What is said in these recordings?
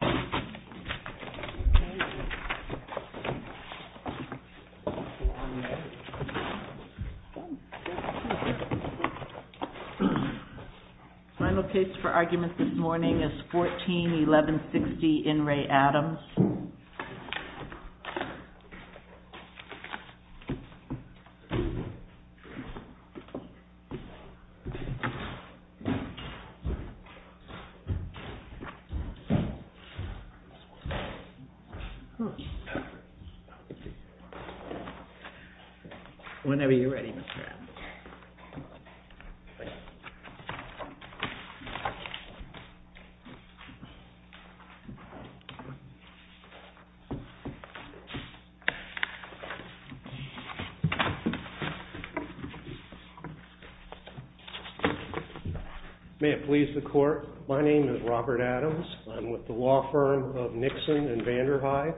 Final case for argument this morning is 14-1160 In Re Adams. Whenever you're ready, Mr. Adams. My name is Robert Adams. I'm with the law firm of Nixon and Vanderhyde.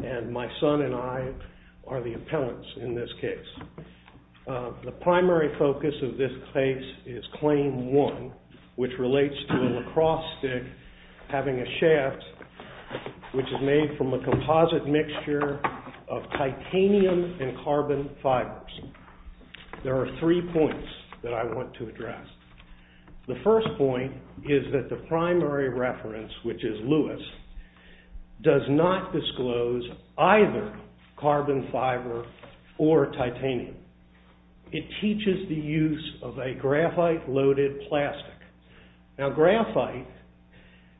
And my son and I are the appellants in this case. The primary focus of this case is claim one, which relates to a lacrosse stick having a shaft, which is made from a composite mixture of titanium and carbon fibers. There are three points that I want to address. The first point is that the primary reference, which is Lewis, does not disclose either carbon fiber or titanium. It teaches the use of a graphite-loaded plastic. Now graphite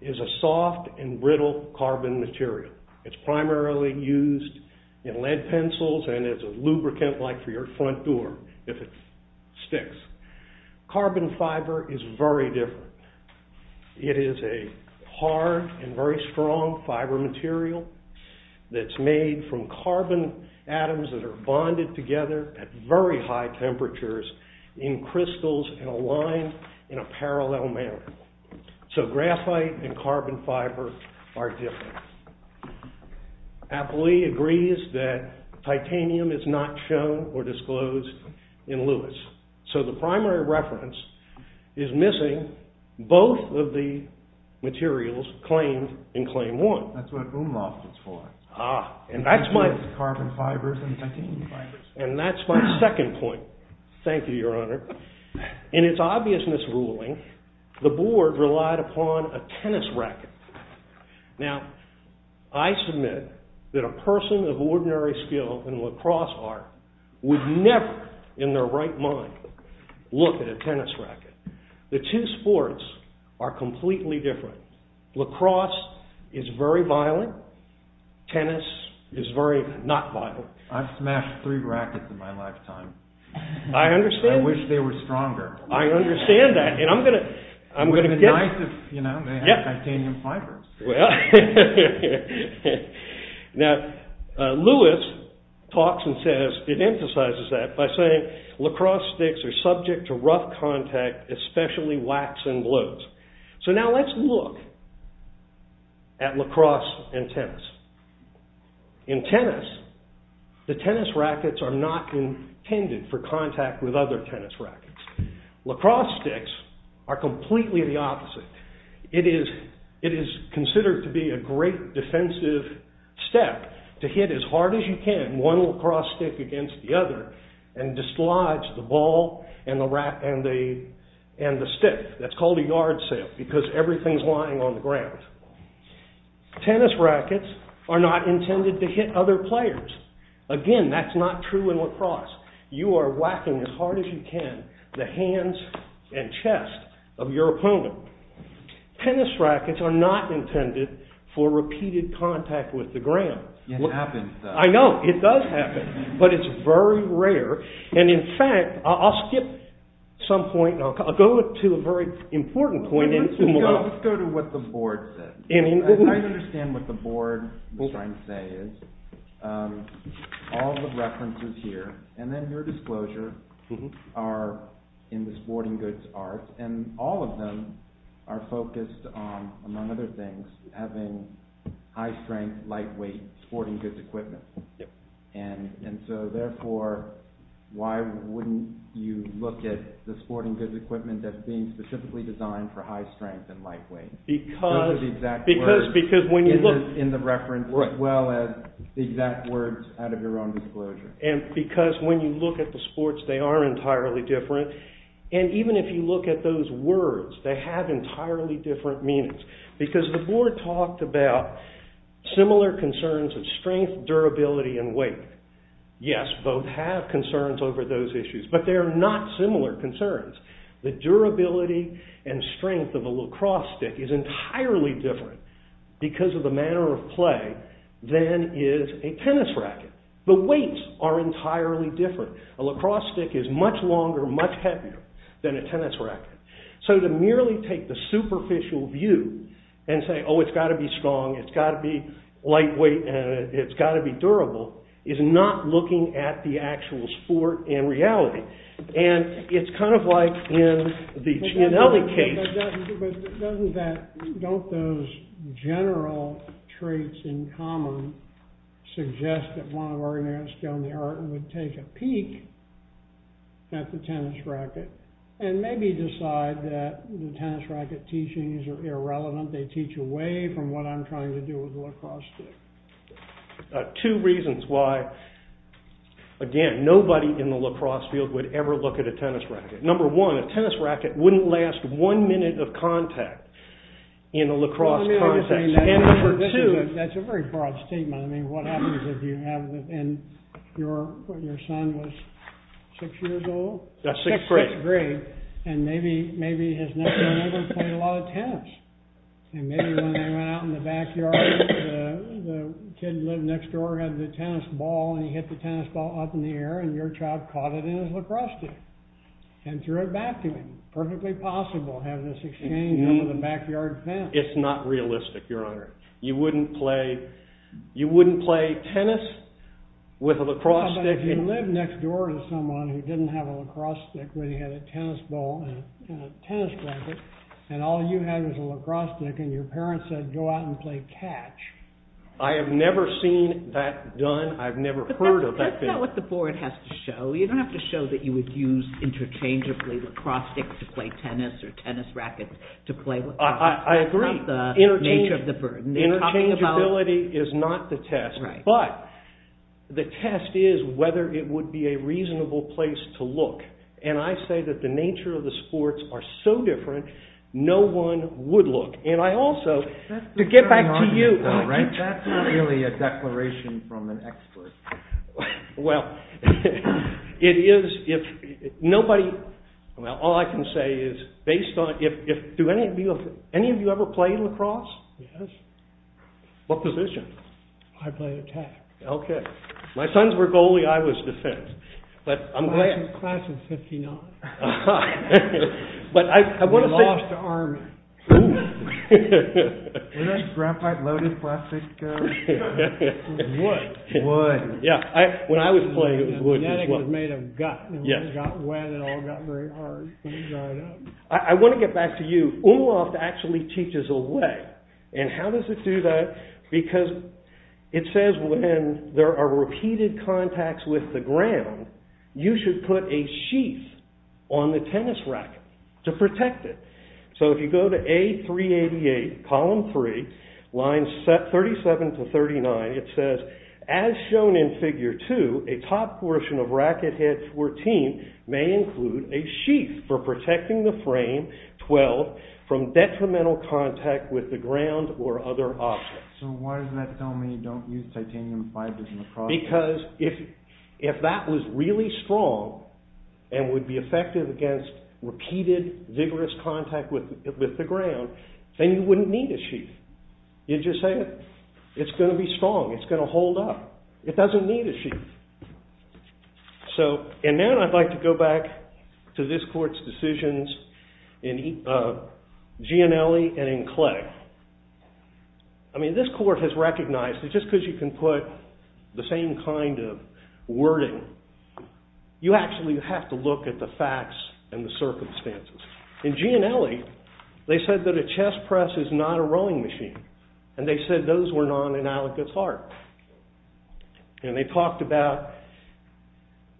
is a soft and brittle carbon material. It's primarily used in lead pencils and as a lubricant, like for your front door, if it sticks. Carbon fiber is very different. It is a hard and very strong fiber material that's made from carbon atoms that are bonded together at very high temperatures in crystals and aligned in a parallel manner. So graphite and carbon fiber are different. Appley agrees that titanium is not shown or disclosed in Lewis. So the primary reference is missing both of the materials claimed in claim one. That's what Umloft is for. Ah, and that's my second point. Thank you, Your Honor. In its obvious misruling, the board relied upon a tennis racket. Now, I submit that a person of ordinary skill in lacrosse art would never in their right mind look at a tennis racket. The two sports are completely different. Lacrosse is very violent. Tennis is very not violent. I've smashed three rackets in my lifetime. I understand. I wish they were stronger. I understand that, and I'm going to get... With a knife, you know, they have titanium fiber. Well, now Lewis talks and says, it emphasizes that by saying lacrosse sticks are subject to rough contact, especially whacks and blows. So now let's look at lacrosse and tennis. In tennis, the tennis rackets are not intended for contact with other tennis rackets. Lacrosse sticks are completely the opposite. It is considered to be a great defensive step to hit as hard as you can one lacrosse stick against the other and dislodge the ball and the stick. That's called a yard sale because everything's lying on the ground. Tennis rackets are not intended to hit other players. Again, that's not true in lacrosse. You are whacking as hard as you can the hands and chest of your opponent. Tennis rackets are not intended for repeated contact with the ground. It happens, though. I know. It does happen, but it's very rare. And in fact, I'll skip some point. I'll go to a very important point. Let's go to what the board says. I understand what the board is trying to say. All the references here, and then your disclosure, are in the sporting goods art, and all of them are focused on, among other things, having high-strength, lightweight sporting goods equipment. And so, therefore, why wouldn't you look at the sporting goods equipment that's being specifically designed for high-strength and lightweight? Because when you look... In the reference, as well as the exact words out of your own disclosure. And because when you look at the sports, they are entirely different. And even if you look at those words, they have entirely different meanings. Because the board talked about similar concerns of strength, durability, and weight. Yes, both have concerns over those issues, but they are not similar concerns. The durability and strength of a lacrosse stick is entirely different because of the manner of play than is a tennis racket. The weights are entirely different. A lacrosse stick is much longer, much heavier than a tennis racket. So to merely take the superficial view and say, oh, it's got to be strong, it's got to be lightweight, and it's got to be durable, is not looking at the actual sport in reality. And it's kind of like in the Gianelli case... But doesn't that... Don't those general traits in common suggest that one of our units down there would take a peek at the tennis racket and maybe decide that the tennis racket teachings are irrelevant, they teach away from what I'm trying to do with the lacrosse stick? Two reasons why, again, nobody in the lacrosse field would ever look at a tennis racket. Number one, a tennis racket wouldn't last one minute of contact in a lacrosse context. And number two... That's a very broad statement. I mean, what happens if you have... And your son was six years old? Sixth grade. And maybe his nephew and uncle played a lot of tennis. And maybe when they went out in the backyard, the kid who lived next door had the tennis ball, and he hit the tennis ball up in the air, and your child caught it in his lacrosse stick and threw it back to him. Perfectly possible to have this exchange over the backyard fence. It's not realistic, Your Honor. You wouldn't play tennis with a lacrosse stick... How about if you lived next door to someone who didn't have a lacrosse stick, but he had a tennis ball and a tennis racket, and all you had was a lacrosse stick, and your parents said, go out and play catch. I have never seen that done. I've never heard of that. But that's not what the board has to show. You don't have to show that you would use interchangeably lacrosse sticks to play tennis or tennis rackets to play lacrosse. I agree. That's not the nature of the burden. Interchangeability is not the test. But the test is whether it would be a reasonable place to look. And I say that the nature of the sports are so different, no one would look. And I also... To get back to you... That's not really a declaration from an expert. Well, it is if nobody... All I can say is, based on... Do any of you ever play lacrosse? Yes. What position? I play attack. Okay. My sons were goalie, I was defense. But I'm glad. Class of 1959. But I want to say... We lost to Army. Wasn't that graphite loaded plastic? Wood. Wood. Yeah, when I was playing, it was wood as well. It was made of gut. It got wet and all got very hard. I want to get back to you. UMLOFT actually teaches a way. And how does it do that? Because it says when there are repeated contacts with the ground, you should put a sheath on the tennis racket to protect it. So if you go to A388, column 3, lines 37 to 39, it says, as shown in figure 2, a top portion of racket head 14 may include a sheath for protecting the frame 12 from detrimental contact with the ground or other objects. So why does that tell me you don't use titanium fibers in lacrosse? Because if that was really strong and would be effective against repeated vigorous contact with the ground, then you wouldn't need a sheath. You'd just say it's going to be strong. It's going to hold up. It doesn't need a sheath. And now I'd like to go back to this court's decisions in Gianelli and in Clay. I mean, this court has recognized that just because you can put the same kind of wording, you actually have to look at the facts and the circumstances. In Gianelli, they said that a chess press is not a rowing machine. And they said those were non-analogous art. And they talked about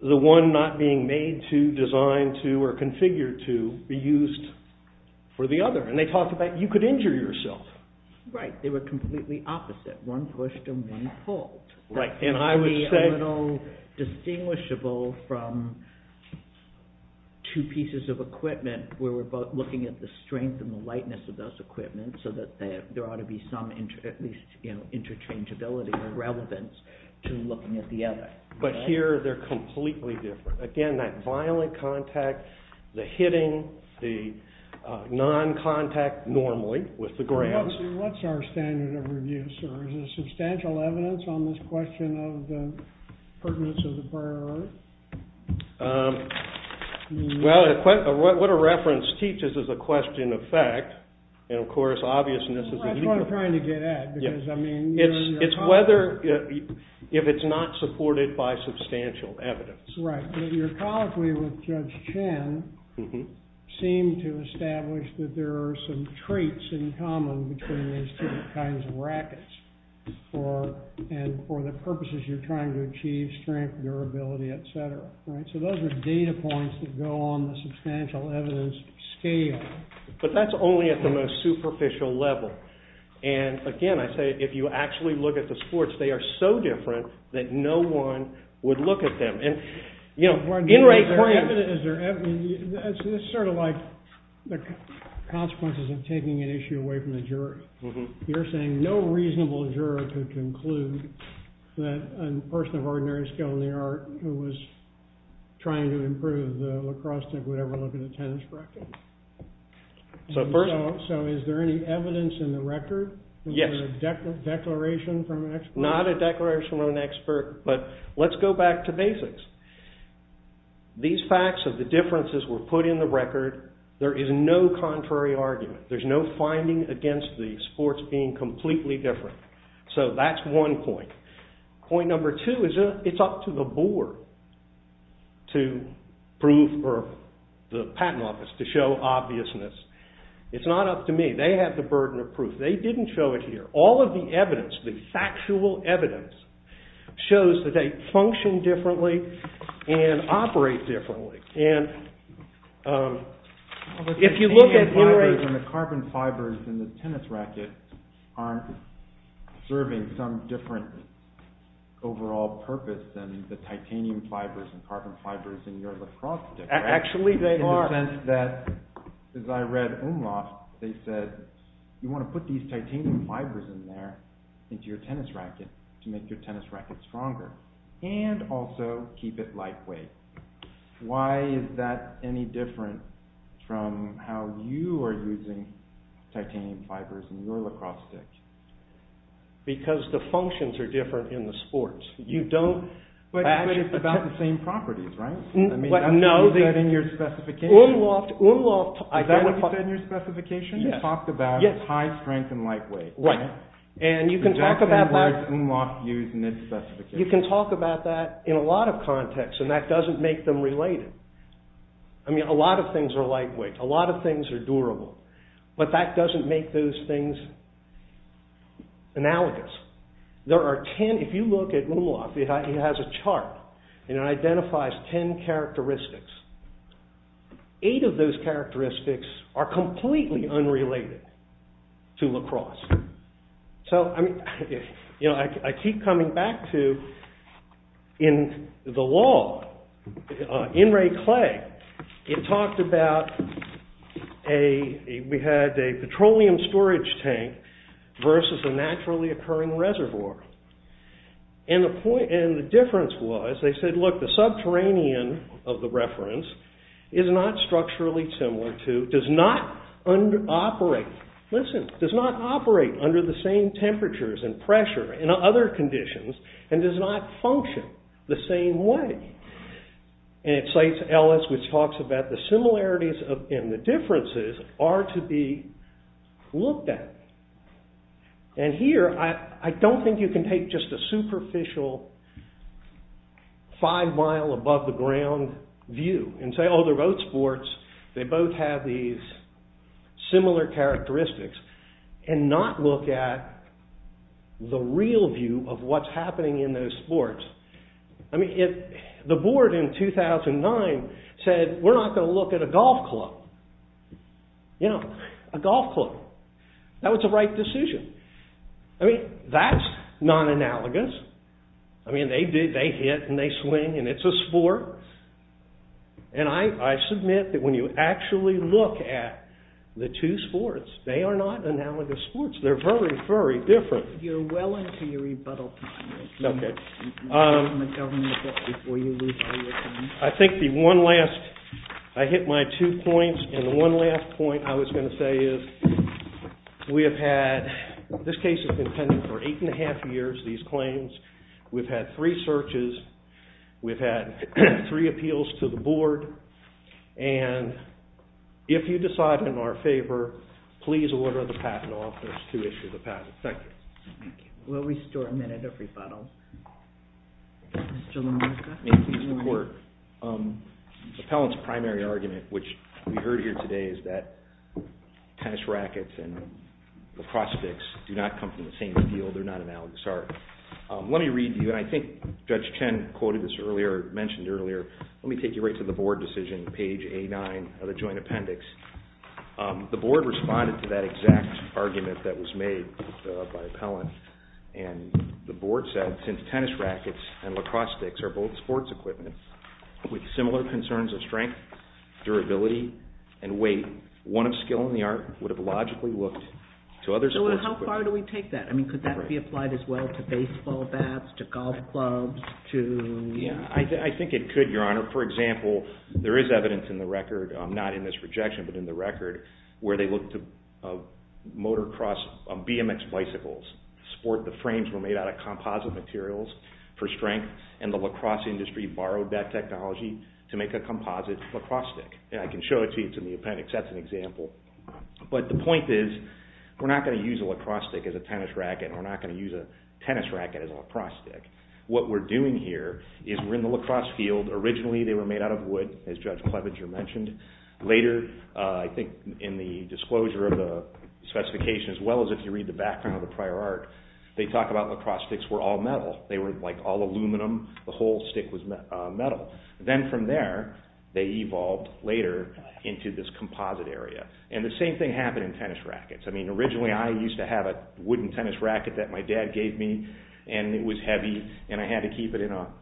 the one not being made to, designed to, or configured to be used for the other. And they talked about you could injure yourself. Right. They were completely opposite. One pushed and one pulled. Right. And I would say... It would be a little distinguishable from two pieces of equipment where we're both looking at the strength and the lightness of those equipment so that there ought to be some interchangeability or relevance to looking at the other. But here they're completely different. Again, that violent contact, the hitting, the non-contact normally with the grounds. What's our standard of review, sir? Is there substantial evidence on this question of the pertinence of the prior art? Well, what a reference teaches is a question of fact. And of course, obviousness is a legal... That's what I'm trying to get at. It's whether... If it's not supported by substantial evidence. Right. Your colloquy with Judge Chen seemed to establish that there are some traits in common between these two kinds of rackets for the purposes you're trying to achieve, strength, durability, etc. So those are data points that go on the substantial evidence scale. But that's only at the most superficial level. And again, I say, if you actually look at the sports, they are so different that no one would look at them. Is there evidence... It's sort of like the consequences of taking an issue away from the juror. You're saying no reasonable juror could conclude that a person of ordinary skill in the art who was trying to improve the lacrosse team would ever look at a tennis racket. So is there any evidence in the record? Yes. A declaration from an expert? Not a declaration from an expert. But let's go back to basics. These facts of the differences were put in the record. There is no contrary argument. There's no finding against the sports being completely different. So that's one point. Point number two is it's up to the board to prove, or the patent office, to show obviousness. It's not up to me. They have the burden of proof. They didn't show it here. All of the evidence, the factual evidence, shows that they function differently and operate differently. If you look at... The carbon fibers in the tennis racket aren't serving some different overall purpose than the titanium fibers and carbon fibers in your lacrosse racket. Actually, they are. In the sense that, as I read Umloft, they said, you want to put these titanium fibers in there into your tennis racket to make your tennis racket stronger and also keep it lightweight. Why is that any different from how you are using titanium fibers in your lacrosse stick? Because the functions are different in the sports. You don't... Actually, it's about the same properties, right? Is that in your specification? Umloft... Is that what you said in your specification? You talked about high strength and lightweight. Right. And you can talk about that... You can talk about that in a lot of contexts and that doesn't make them related. I mean, a lot of things are lightweight. A lot of things are durable. But that doesn't make those things analogous. There are ten... If you look at Umloft, it has a chart and it identifies ten characteristics. Eight of those characteristics are completely unrelated to lacrosse. So, I mean... You know, I keep coming back to... In the law, in Ray Clay, it talked about a... We had a petroleum storage tank versus a naturally occurring reservoir. And the difference was, they said, look, the subterranean of the reference is not structurally similar to... Does not operate... Listen, does not operate under the same temperatures and pressure and other conditions and does not function the same way. And it cites Ellis, which talks about the similarities and the differences are to be looked at. And here, I don't think you can take just a superficial five mile above the ground view and say, oh, they're both sports, they both have these similar characteristics and not look at the real view of what's happening in those sports. I mean, the board in 2009 said, we're not gonna look at a golf club. You know, a golf club. That was the right decision. I mean, that's non-analogous. I mean, they hit and they swing and it's a sport. And I submit that when you actually look at the two sports, they are not analogous sports. They're very, very different. You're well into your rebuttal time. Okay. Before you lose all your time. I think the one last, I hit my two points and the one last point I was gonna say is we have had, this case has been pending for eight and a half years, these claims. We've had three searches. We've had three appeals to the board. And if you decide in our favor, please order the patent office to issue the patent. Thank you. We'll restore a minute of rebuttal. Mr. Lomarca. May it please the court. Appellant's primary argument, which we heard here today, is that tennis rackets and lacrosse sticks do not come from the same field. They're not analogous. Let me read to you, and I think Judge Chen quoted this earlier, mentioned earlier. Let me take you right to the board decision, page A-9 of the joint appendix. The board responded to that exact argument that was made by Appellant. And the board said, since tennis rackets and lacrosse sticks are both sports equipment, with similar concerns of strength, durability, and weight, one of skill in the art would have logically looked to other sports equipment. So how far do we take that? Could that be applied as well to baseball bats, to golf clubs, to... I think it could, Your Honor. For example, there is evidence in the record, not in this rejection, but in the record, where they looked to motorcross, BMX bicycles. The frames were made out of composite materials for strength, and the lacrosse industry borrowed that technology to make a composite lacrosse stick. I can show it to you. It's in the appendix. That's an example. But the point is, we're not going to use a lacrosse stick as a tennis racket, and we're not going to use a tennis racket as a lacrosse stick. What we're doing here is we're in the lacrosse field. Originally, they were made out of wood, as Judge Clevenger mentioned. Later, I think in the disclosure of the specification, as well as if you read the background of the prior art, they talk about lacrosse sticks were all metal. They were, like, all aluminum. The whole stick was metal. Then from there, they evolved later into this composite area. The same thing happened in tennis rackets. Originally, I used to have a wooden tennis racket that my dad gave me. It was heavy, and I had to keep it in a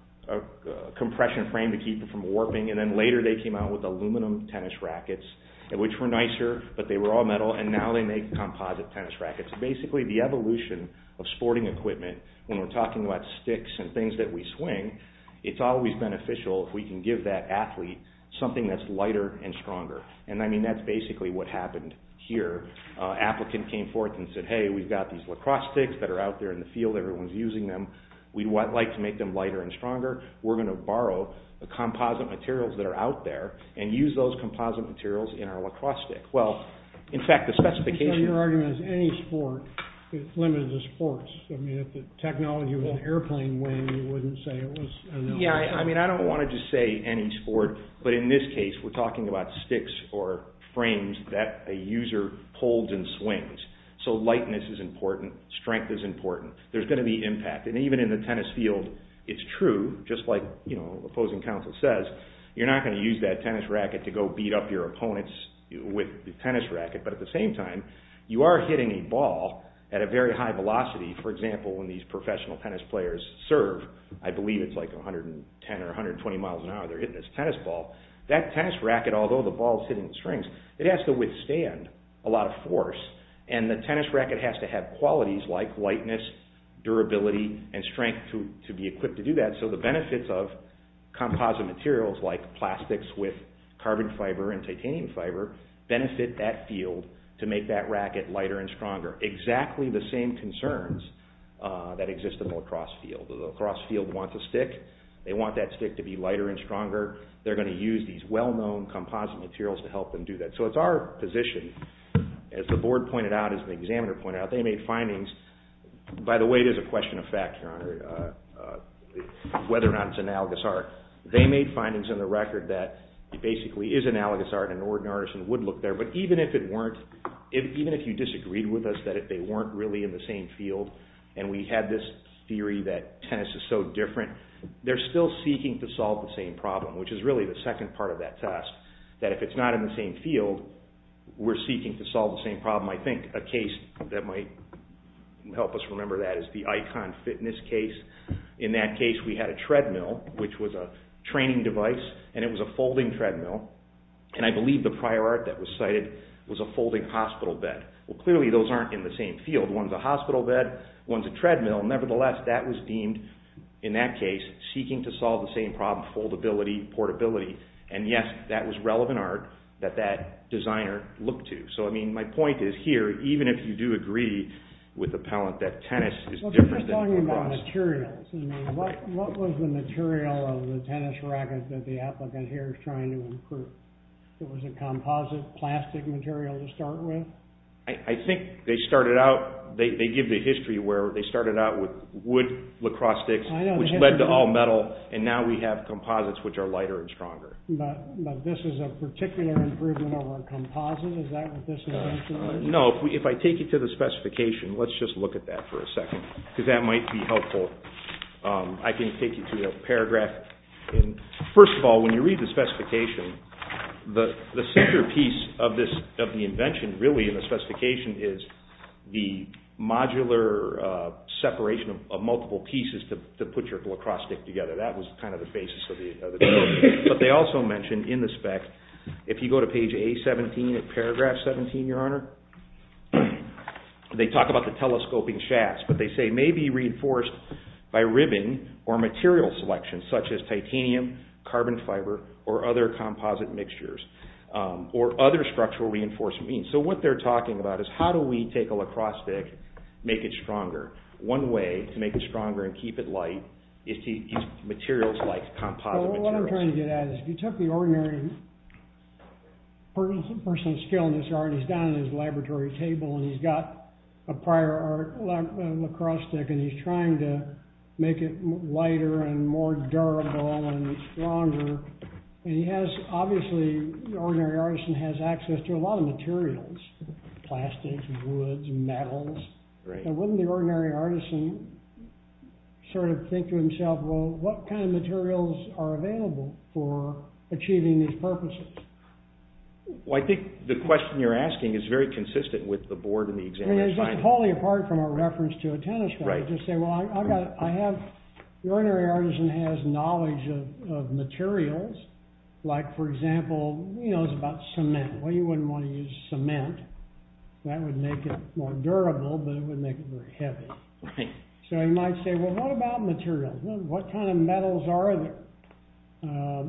compression frame to keep it from warping. Later, they came out with aluminum tennis rackets, which were nicer, but they were all metal. Now, they make composite tennis rackets. Basically, the evolution of sporting equipment, when we're talking about sticks and things that we swing, it's always beneficial if we can give that athlete something that's lighter and stronger. I mean, that's basically what happened here. An applicant came forth and said, hey, we've got these lacrosse sticks that are out there in the field. Everyone's using them. We'd like to make them lighter and stronger. We're going to borrow the composite materials that are out there and use those composite materials in our lacrosse stick. Well, in fact, the specification... Your argument is any sport is limited to sports. I mean, if the technology was an airplane wing, you wouldn't say it was... Yeah, I mean, I don't want to just say any sport, but in this case, we're talking about sticks or frames that a user holds and swings. So lightness is important. Strength is important. There's going to be impact, and even in the tennis field, it's true, just like, you know, opposing counsel says, you're not going to use that tennis racket to go beat up your opponents with the tennis racket, but at the same time, you are hitting a ball at a very high velocity. For example, when these professional tennis players serve, I believe it's like 110 or 120 miles an hour, they're hitting this tennis ball. That tennis racket, although the ball is hitting the strings, it has to withstand a lot of force, and the tennis racket has to have qualities like lightness, durability, and strength to be equipped to do that. So the benefits of composite materials like plastics with carbon fiber and titanium fiber benefit that field to make that racket lighter and stronger. Exactly the same concerns that exist in the lacrosse field. The lacrosse field wants a stick. They want that stick to be lighter and stronger. They're going to use these well-known composite materials to help them do that. So it's our position, as the board pointed out, as the examiner pointed out, they made findings. By the way, it is a question of fact, Your Honor, whether or not it's analogous art. They made findings in the record that it basically is analogous art, and an ordinary artisan would look there, but even if you disagreed with us that if they weren't really in the same field, and we had this theory that tennis is so different, they're still seeking to solve the same problem, which is really the second part of that test, that if it's not in the same field, we're seeking to solve the same problem. I think a case that might help us remember that is the Icon Fitness case. In that case, we had a treadmill, which was a training device, and it was a folding treadmill, and I believe the prior art that was cited was a folding hospital bed. Well, clearly those aren't in the same field. One's a hospital bed, one's a treadmill. Nevertheless, that was deemed, in that case, seeking to solve the same problem, foldability, portability, and yes, that was relevant art that that designer looked to. So, I mean, my point is here, even if you do agree with the appellant that tennis is different than lacrosse... Well, we're just talking about materials. What was the material of the tennis racket that the applicant here is trying to improve? It was a composite plastic material to start with? I think they started out... They give the history where they started out with wood lacrosse sticks, which led to all metal, and now we have composites, which are lighter and stronger. But this is a particular improvement over a composite? Is that what this is? No, if I take you to the specification, let's just look at that for a second, because that might be helpful. I can take you to the paragraph. First of all, when you read the specification, the centerpiece of the invention, really, in the specification is the modular separation of multiple pieces to put your lacrosse stick together. That was kind of the basis of the design. But they also mentioned in the spec, if you go to page A-17, paragraph 17, Your Honor, they talk about the telescoping shafts, but they say, may be reinforced by ribbing or material selection, such as titanium, carbon fiber, or other composite mixtures, or other structural reinforcements. So what they're talking about is how do we take a lacrosse stick, make it stronger? One way to make it stronger and keep it light is to use materials like composite materials. What I'm trying to get at is, if you took the ordinary person's skill in this art, he's down at his laboratory table, and he's got a prior art lacrosse stick, and he's trying to make it lighter and more durable and stronger. And he has, obviously, the ordinary artisan has access to a lot of materials, plastics, woods, metals. And wouldn't the ordinary artisan sort of think to himself, well, what kind of materials are available for achieving these purposes? Well, I think the question you're asking is very consistent with the board and the examiner's finding. I mean, it's just wholly apart from a reference to a tennis pitch. I would just say, well, the ordinary artisan has knowledge of materials. Like, for example, it's about cement. Well, you wouldn't want to use cement. That would make it more durable, but it would make it very heavy. So you might say, well, what about materials? What kind of metals are there?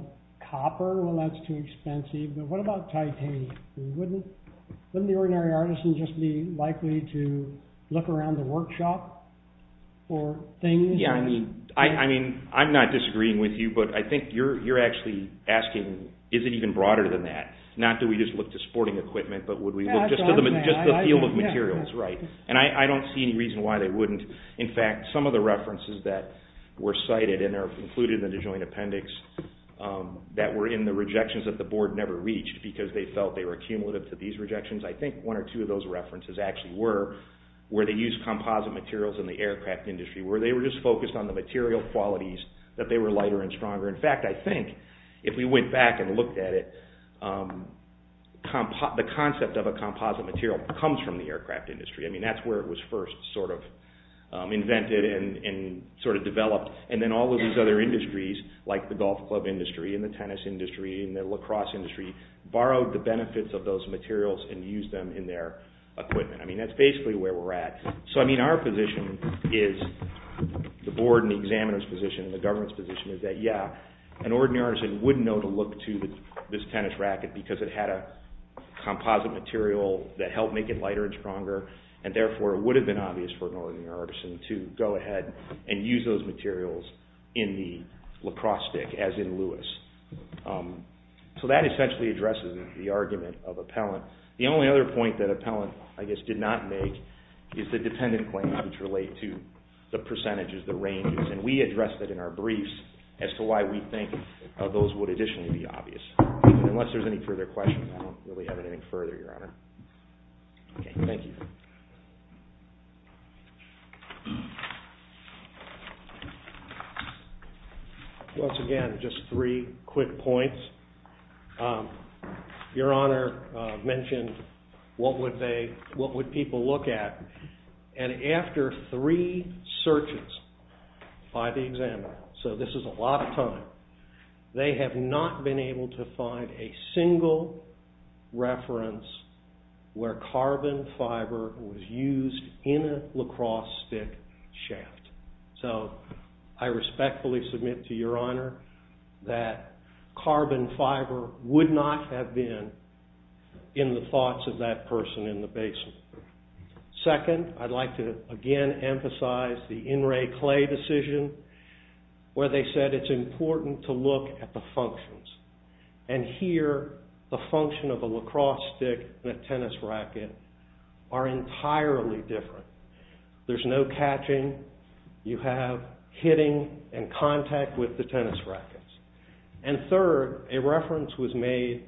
Copper? Well, that's too expensive. But what about titanium? Wouldn't the ordinary artisan just be likely to look around the workshop for things? Yeah, I mean, I'm not disagreeing with you, but I think you're actually asking, is it even broader than that? Not do we just look to sporting equipment, but would we look just to the field of materials? Right. And I don't see any reason why they wouldn't. In fact, some of the references that were cited and are included in the joint appendix that were in the rejections that the board never reached because they felt they were accumulative to these rejections, I think one or two of those references actually were where they used composite materials in the aircraft industry, where they were just focused on the material qualities that they were lighter and stronger. In fact, I think if we went back and looked at it, the concept of a composite material comes from the aircraft industry. I mean, that's where it was first sort of invented and sort of developed. And then all of these other industries, like the golf club industry and the tennis industry and the lacrosse industry, borrowed the benefits of those materials and used them in their equipment. I mean, that's basically where we're at. So I mean, our position is, the board and the examiner's position and the government's position is that, yeah, an ordinary artisan would know to look to this tennis racket because it had a composite material that helped make it lighter and stronger, and therefore it would have been obvious for an ordinary artisan to go ahead and use those materials in the lacrosse stick, as in Lewis. So that essentially addresses the argument of Appellant. The only other point that Appellant, I guess, did not make is the dependent claims which relate to the percentages, the ranges, and we address that in our briefs as to why we think those would additionally be obvious. Unless there's any further questions, I don't really have anything further, Your Honor. Okay, thank you. Once again, just three quick points. Your Honor mentioned what would people look at, and after three searches by the examiner, so this is a lot of time, they have not been able to find a single reference where carbon fiber was used. So, I respectfully submit to Your Honor that carbon fiber would not have been in the thoughts of that person in the basement. Second, I'd like to again emphasize the In Re Clay decision, where they said it's important to look at the functions, and here the function of a lacrosse stick and a tennis racket are in fact entirely different. There's no catching, you have hitting and contact with the tennis racket. And third, a reference was made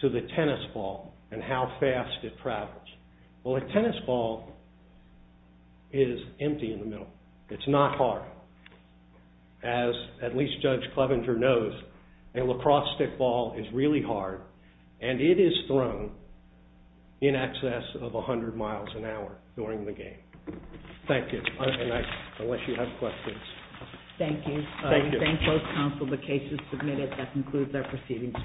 to the tennis ball and how fast it travels. Well, a tennis ball is empty in the middle. It's not hard. As at least Judge Clevenger knows, a lacrosse stick ball is really hard and it is thrown in excess of 100 miles an hour during the game. Thank you. Unless you have questions. Thank you. We thank both counsel. The case is submitted. That concludes our proceedings.